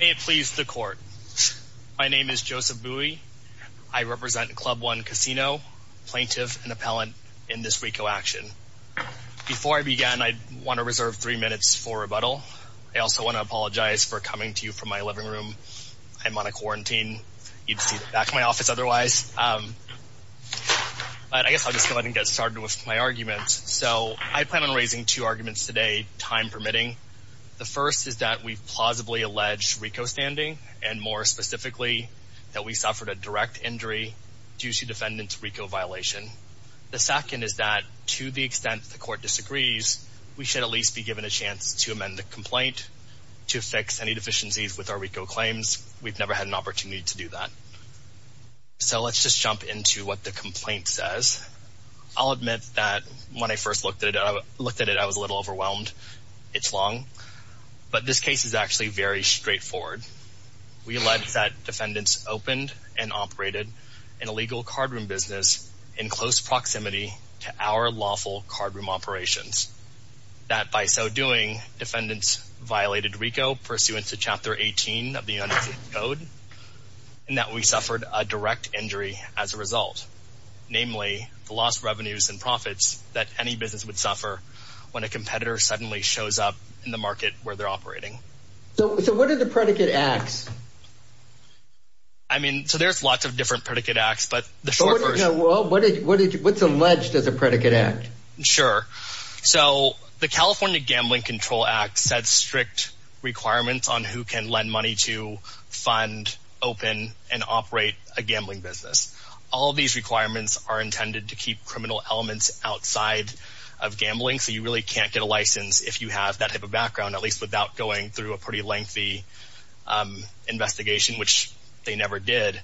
May it please the court. My name is Joseph Bui. I represent Club One Casino, plaintiff and appellant in this RICO action. Before I begin, I want to reserve three minutes for rebuttal. I also want to apologize for coming to you from my living room. I'm on a quarantine. You'd see the back of my office otherwise. But I guess I'll just go ahead and get started with my arguments. So I plan on raising two arguments today, time permitting. The first is that we plausibly allege RICO standing and more specifically that we suffered a direct injury due to defendant's RICO violation. The second is that to the extent the court disagrees, we should at least be given a chance to amend the complaint to fix any deficiencies with our RICO claims. We've never had an opportunity to do that. So let's just jump into what the complaint says. I'll admit that when I first looked at it, I was a little overwhelmed. It's long. But this case is actually very straightforward. We allege that defendants opened and operated an illegal cardroom business in close proximity to our lawful cardroom operations. That by so doing, defendants violated RICO pursuant to Chapter 18 of the United States Code. And that we suffered a direct injury as a result. Namely, the lost revenues and profits that any business would suffer when a competitor suddenly shows up in the market where they're operating. So what are the predicate acts? I mean, so there's lots of different predicate acts, but the short version. What's alleged as a predicate act? Sure. So the California Gambling Control Act sets strict requirements on who can lend money to fund, open, and operate a gambling business. All of these requirements are intended to keep criminal elements outside of gambling. So you really can't get a license if you have that type of background, at least without going through a pretty lengthy investigation, which they never did.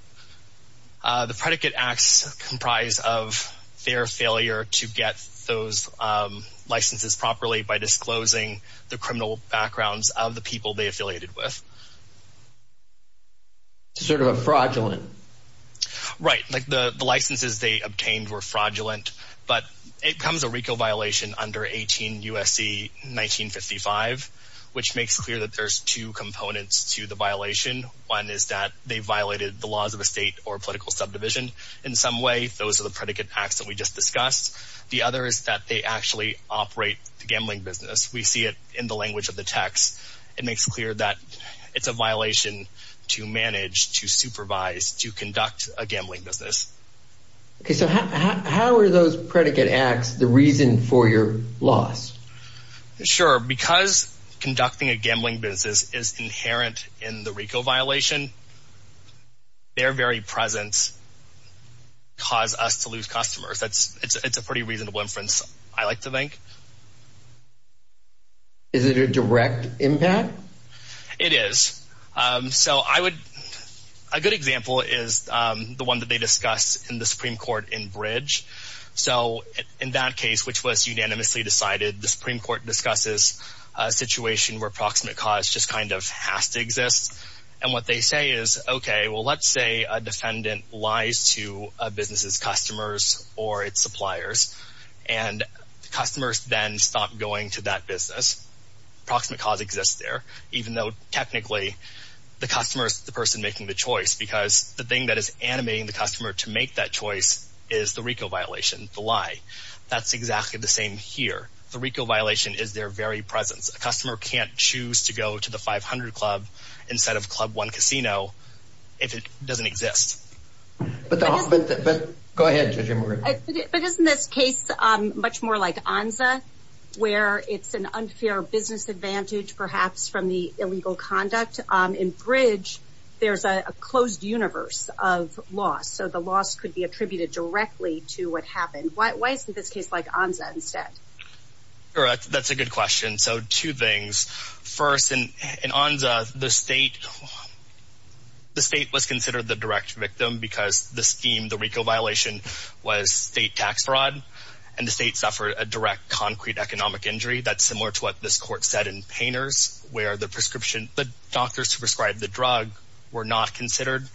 The predicate acts comprise of their failure to get those licenses properly by disclosing the criminal backgrounds of the people they affiliated with. Sort of a fraudulent. Right. The licenses they obtained were fraudulent, but it becomes a RICO violation under 18 U.S.C. 1955, which makes clear that there's two components to the violation. One is that they violated the laws of a state or political subdivision in some way. Those are the predicate acts that we just discussed. The other is that they actually operate the gambling business. We see it in the language of the text. It makes clear that it's a violation to manage, to supervise, to conduct a gambling business. Okay. So how are those predicate acts the reason for your loss? Sure. Because conducting a gambling business is inherent in the RICO violation, their very presence caused us to lose customers. It's a pretty reasonable inference, I like to think. Is it a direct impact? It is. So I would – a good example is the one that they discussed in the Supreme Court in Bridge. So in that case, which was unanimously decided, the Supreme Court discusses a situation where proximate cause just kind of has to exist. And what they say is, okay, well, let's say a defendant lies to a business's customers or its suppliers, and the customers then stop going to that business. Proximate cause exists there, even though technically the customer is the person making the choice, because the thing that is animating the customer to make that choice is the RICO violation, the lie. That's exactly the same here. The RICO violation is their very presence. A customer can't choose to go to the 500 Club instead of Club One Casino if it doesn't exist. But the – go ahead, Judge Emery. But isn't this case much more like ONZA, where it's an unfair business advantage perhaps from the illegal conduct? In Bridge, there's a closed universe of loss, so the loss could be attributed directly to what happened. Why isn't this case like ONZA instead? Correct. That's a good question. So two things. First, in ONZA, the state was considered the direct victim because the scheme, the RICO violation, was state tax fraud, and the state suffered a direct concrete economic injury. That's similar to what this court said in Painters, where the prescription – the doctors who prescribed the drug were not considered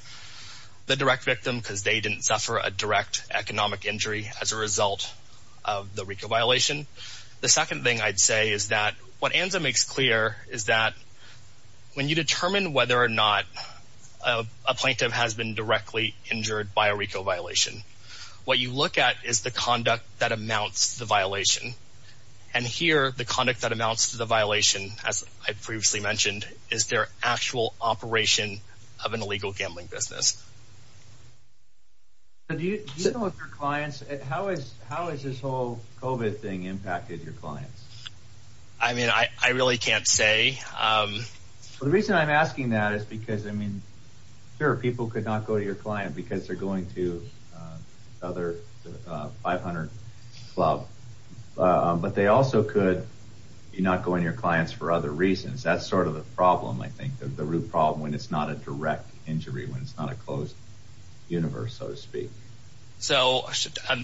the direct victim because they didn't suffer a direct economic injury as a result of the RICO violation. The second thing I'd say is that what ONZA makes clear is that when you determine whether or not a plaintiff has been directly injured by a RICO violation, what you look at is the conduct that amounts to the violation. And here, the conduct that amounts to the violation, as I previously mentioned, is their actual operation of an illegal gambling business. Do you know if your clients – how has this whole COVID thing impacted your clients? I mean, I really can't say. The reason I'm asking that is because, I mean, sure, people could not go to your client because they're going to another 500 club, but they also could be not going to your clients for other reasons. That's sort of the problem, I think, the root problem, when it's not a direct injury, when it's not a closed universe, so to speak. So,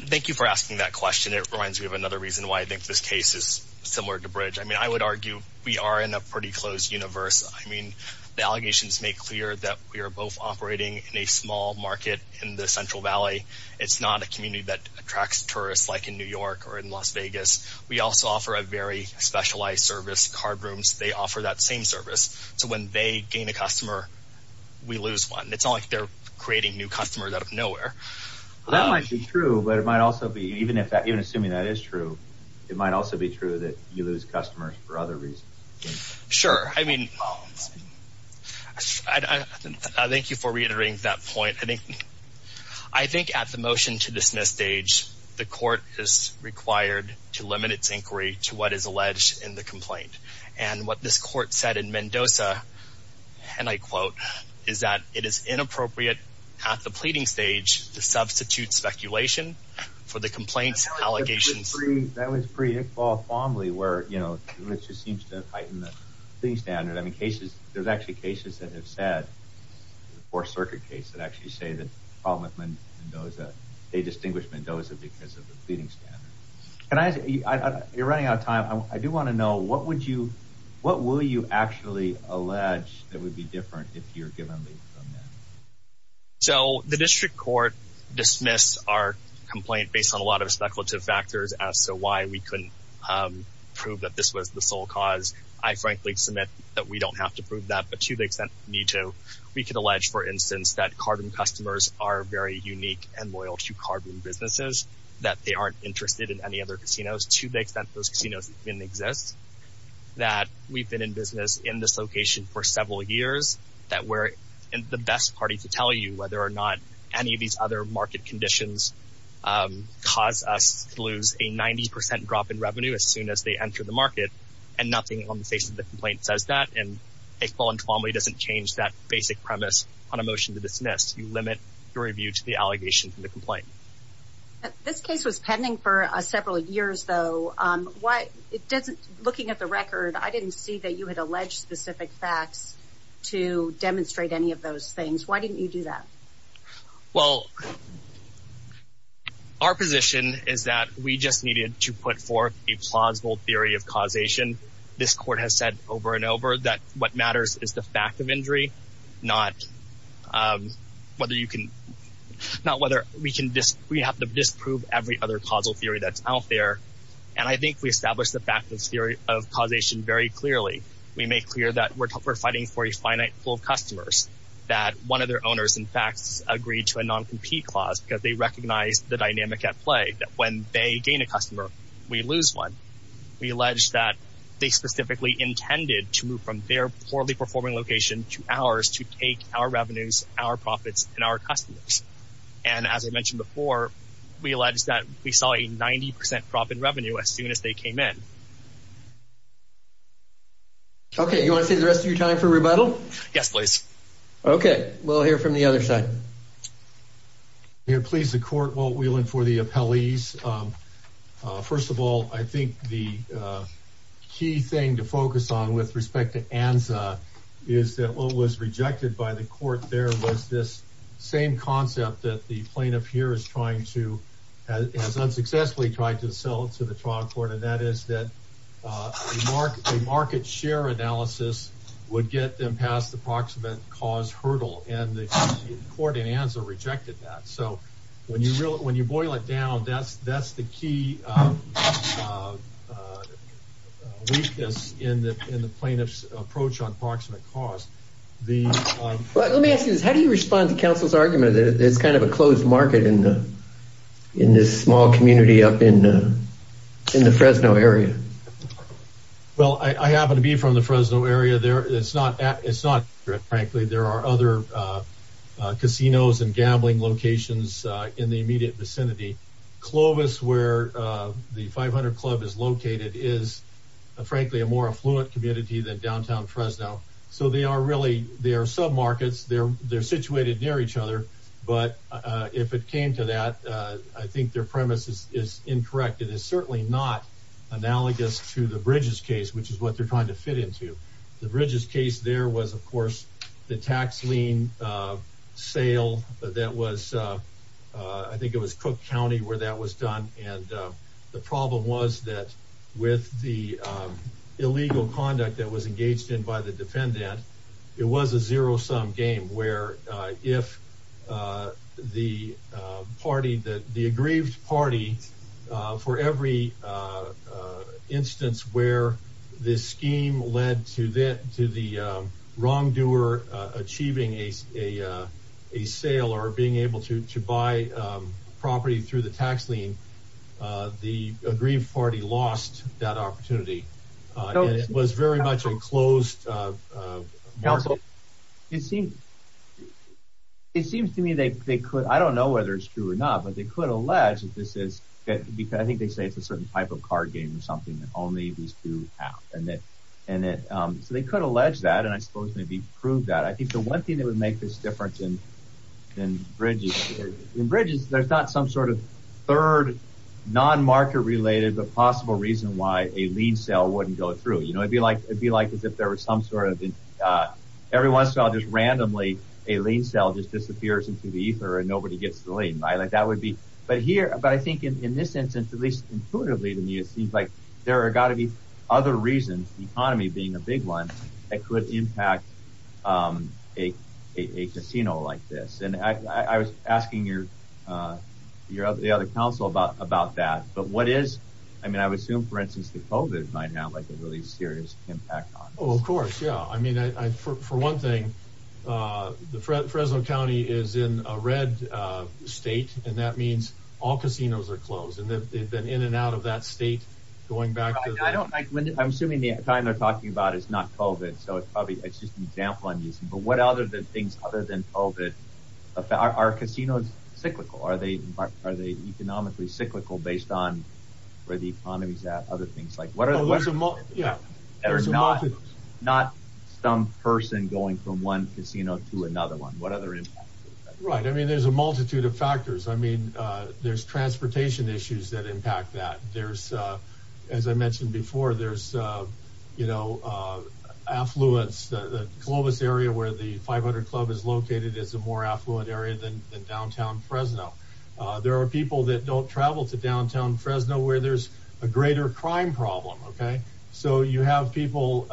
thank you for asking that question. It reminds me of another reason why I think this case is similar to Bridge. I mean, I would argue we are in a pretty closed universe. I mean, the allegations make clear that we are both operating in a small market in the Central Valley. It's not a community that attracts tourists like in New York or in Las Vegas. We also offer a very specialized service, card rooms. They offer that same service. So, when they gain a customer, we lose one. It's not like they're creating new customers out of nowhere. Well, that might be true, but it might also be, even assuming that is true, it might also be true that you lose customers for other reasons. Sure. I mean, thank you for reiterating that point. I think at the motion to dismiss stage, the court is required to limit its inquiry to what is alleged in the complaint. And what this court said in Mendoza, and I quote, is that it is inappropriate at the pleading stage to substitute speculation for the complaint's allegations. That was pre-Iqbal Fomley where, you know, it just seems to heighten the pleading standard. I mean, there's actually cases that have said, the Fourth Circuit case, that actually say the problem with Mendoza, they distinguish Mendoza because of the pleading standard. You're running out of time. I do want to know, what would you, what will you actually allege that would be different if you're given leave from Mendoza? So, the district court dismissed our complaint based on a lot of speculative factors as to why we couldn't prove that this was the sole cause. I frankly submit that we don't have to prove that, but to the extent we need to, we could allege, for instance, that Carbon customers are very unique and loyal to Carbon businesses. That they aren't interested in any other casinos, to the extent those casinos even exist. That we've been in business in this location for several years. That we're the best party to tell you whether or not any of these other market conditions cause us to lose a 90% drop in revenue as soon as they enter the market. And nothing on the face of the complaint says that. And a qual entremly doesn't change that basic premise on a motion to dismiss. You limit your review to the allegation from the complaint. This case was pending for several years, though. Looking at the record, I didn't see that you had alleged specific facts to demonstrate any of those things. Why didn't you do that? Well, our position is that we just needed to put forth a plausible theory of causation. This court has said over and over that what matters is the fact of injury, not whether we have to disprove every other causal theory that's out there. And I think we established the fact of causation very clearly. We make clear that we're fighting for a finite pool of customers. That one of their owners, in fact, has agreed to a non-compete clause because they recognize the dynamic at play. That when they gain a customer, we lose one. We allege that they specifically intended to move from their poorly performing location to ours to take our revenues, our profits, and our customers. And as I mentioned before, we allege that we saw a 90% drop in revenue as soon as they came in. OK, you want to save the rest of your time for rebuttal? Yes, please. OK, we'll hear from the other side. Here, please, the court. Walt Whelan for the appellees. First of all, I think the key thing to focus on with respect to ANZA is that what was rejected by the court there was this same concept that the plaintiff here is trying to, has unsuccessfully tried to sell to the trial court. And that is that a market share analysis would get them past the proximate cause hurdle. And the court in ANZA rejected that. So when you boil it down, that's the key weakness in the plaintiff's approach on proximate cause. Let me ask you this. How do you respond to council's argument that it's kind of a closed market in this small community up in the Fresno area? Well, I happen to be from the Fresno area. It's not, frankly, there are other casinos and gambling locations in the immediate vicinity. Clovis, where the 500 Club is located, is, frankly, a more affluent community than downtown Fresno. So they are really, they are submarkets. They're situated near each other. But if it came to that, I think their premise is incorrect. It is certainly not analogous to the Bridges case, which is what they're trying to fit into. The Bridges case there was, of course, the tax lien sale that was, I think it was Cook County where that was done. And the problem was that with the illegal conduct that was engaged in by the defendant, it was a zero sum game where if the party that the aggrieved party for every instance where this scheme led to that, to the wrongdoer achieving a sale or being able to buy property through the tax lien, the aggrieved party lost that opportunity. And it was very much a closed market. It seems to me they could, I don't know whether it's true or not, but they could allege that this is, I think they say it's a certain type of card game or something that only these two have. So they could allege that, and I suppose maybe prove that. I think the one thing that would make this different than Bridges, in Bridges there's not some sort of third non-market related but possible reason why a lien sale wouldn't go through. It would be like as if there was some sort of, every once in a while just randomly a lien sale just disappears into the ether and nobody gets the lien. But I think in this instance, at least intuitively to me, it seems like there are got to be other reasons, the economy being a big one that could impact a casino like this. And I was asking the other council about that. But what is, I mean, I would assume for instance the COVID might have a really serious impact on it. Oh, of course, yeah. I mean, for one thing, Fresno County is in a red state, and that means all casinos are closed, and they've been in and out of that state going back. I'm assuming the time they're talking about is not COVID, so it's probably just an example I'm using. But what other things other than COVID, are casinos cyclical? Are they economically cyclical based on where the economy's at, other things? Not some person going from one casino to another one. What other impacts? Right. I mean, there's a multitude of factors. I mean, there's transportation issues that impact that. There's, as I mentioned before, there's affluence. The Columbus area where the 500 Club is located is a more affluent area than downtown Fresno. There are people that don't travel to downtown Fresno where there's a greater crime problem. So you have people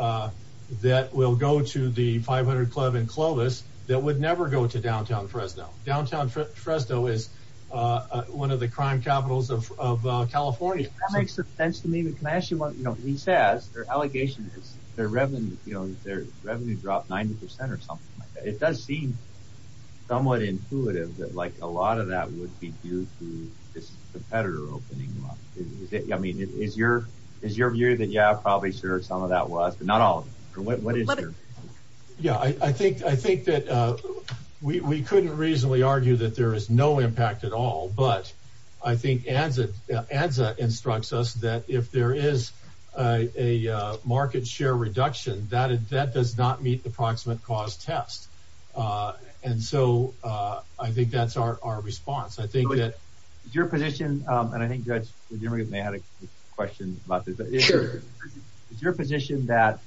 that will go to the 500 Club in Clovis that would never go to downtown Fresno. Downtown Fresno is one of the crime capitals of California. That makes sense to me. But can I ask you, you know, he says their allegation is their revenue dropped 90% or something like that. It does seem somewhat intuitive that like a lot of that would be due to this competitor opening up. I mean, is your view that, yeah, probably sure some of that was, but not all of it. Yeah, I think that we couldn't reasonably argue that there is no impact at all. But I think as it adds, it instructs us that if there is a market share reduction that that does not meet the approximate cost test. And so I think that's our response. I think that your position. And I think that you may have a question about your position that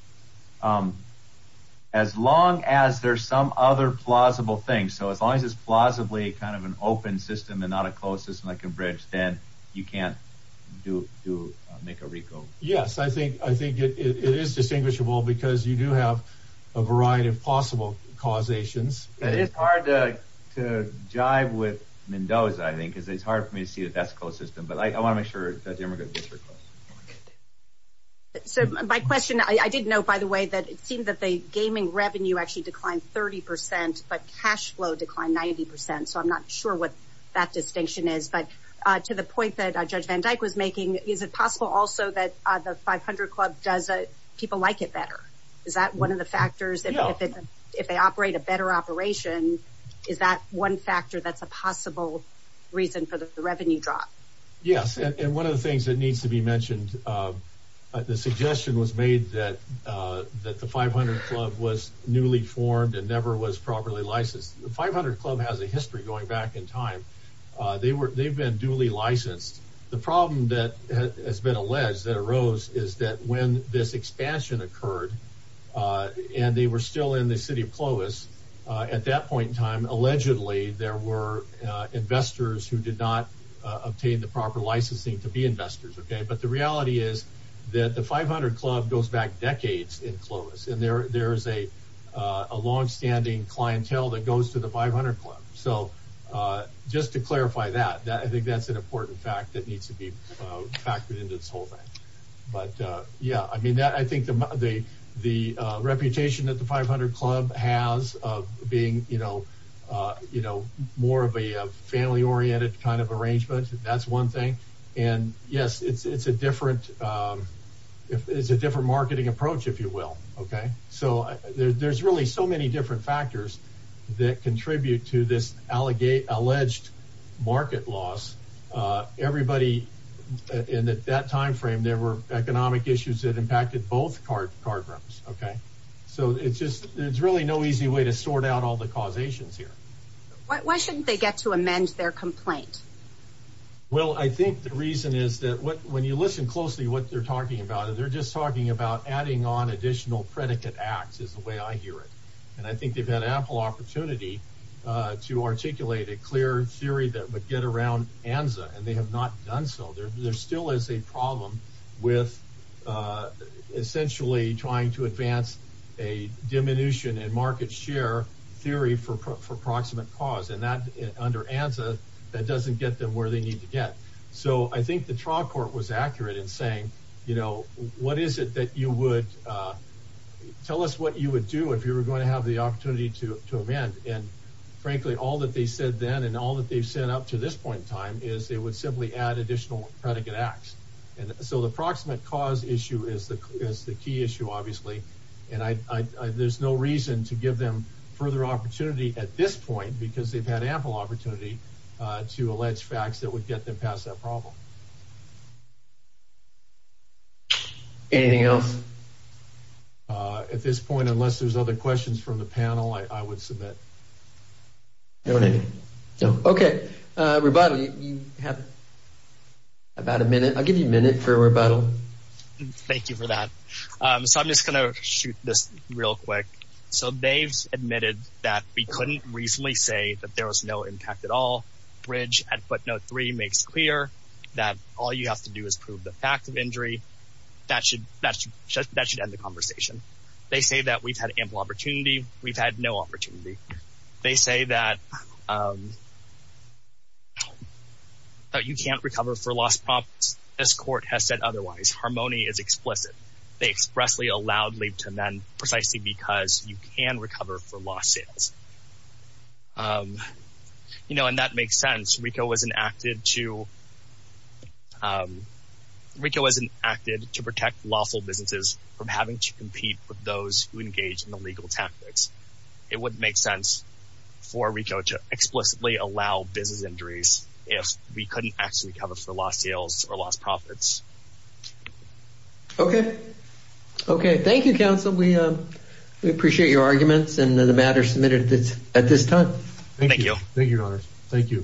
as long as there's some other plausible thing. So as long as it's plausibly kind of an open system and not a closed system like a bridge, then you can't do to make a recall. Yes, I think I think it is distinguishable because you do have a variety of possible causations. It is hard to jive with Mendoza, I think, because it's hard for me to see that that's closed system. But I want to make sure that Democrats are. So my question, I did know, by the way, that it seemed that the gaming revenue actually declined 30 percent, but cash flow declined 90 percent. So I'm not sure what that distinction is. But to the point that Judge Van Dyke was making, is it possible also that the 500 Club does people like it better? Is that one of the factors that if they operate a better operation, is that one factor that's a possible reason for the revenue drop? Yes. And one of the things that needs to be mentioned, the suggestion was made that that the 500 Club was newly formed and never was properly licensed. The 500 Club has a history going back in time. They were they've been duly licensed. The problem that has been alleged that arose is that when this expansion occurred and they were still in the city of Clovis at that point in time, allegedly there were investors who did not obtain the proper licensing to be investors. OK, but the reality is that the 500 Club goes back decades in Clovis and there is a longstanding clientele that goes to the 500 Club. So just to clarify that, I think that's an important fact that needs to be factored into this whole thing. But yeah, I mean, I think the the reputation that the 500 Club has of being, you know, you know, more of a family oriented kind of arrangement. That's one thing. And yes, it's a different it's a different marketing approach, if you will. OK, so there's really so many different factors that contribute to this allegate alleged market loss. Everybody in that time frame, there were economic issues that impacted both card programs. OK, so it's just it's really no easy way to sort out all the causations here. Why shouldn't they get to amend their complaint? Well, I think the reason is that when you listen closely, what they're talking about, they're just talking about adding on additional predicate acts is the way I hear it. And I think they've had ample opportunity to articulate a clear theory that would get around Anza and they have not done so. There still is a problem with essentially trying to advance a diminution in market share theory for proximate cause. And that under answer, that doesn't get them where they need to get. So I think the trial court was accurate in saying, you know, what is it that you would tell us what you would do if you were going to have the opportunity to amend? And frankly, all that they said then and all that they've said up to this point in time is they would simply add additional predicate acts. And so the proximate cause issue is the is the key issue, obviously. And I there's no reason to give them further opportunity at this point because they've had ample opportunity to allege facts that would get them past that problem. Anything else? At this point, unless there's other questions from the panel, I would submit. OK. Rebuttal. You have about a minute. I'll give you a minute for a rebuttal. Thank you for that. So I'm just going to shoot this real quick. So they've admitted that we couldn't reasonably say that there was no impact at all. Bridge at footnote three makes clear that all you have to do is prove the fact of injury. That should that's just that should end the conversation. They say that we've had ample opportunity. We've had no opportunity. They say that. But you can't recover for lost profits. This court has said otherwise. Harmony is explicit. They expressly allowed leave to men precisely because you can recover for lost sales. You know, and that makes sense. Rico was enacted to Rico as an acted to protect lawful businesses from having to compete with those who engage in the legal tactics. It would make sense for Rico to explicitly allow business injuries if we couldn't actually cover for lost sales or lost profits. OK. OK. Thank you, counsel. We appreciate your arguments and the matter submitted at this time. Thank you. Thank you. Thank you.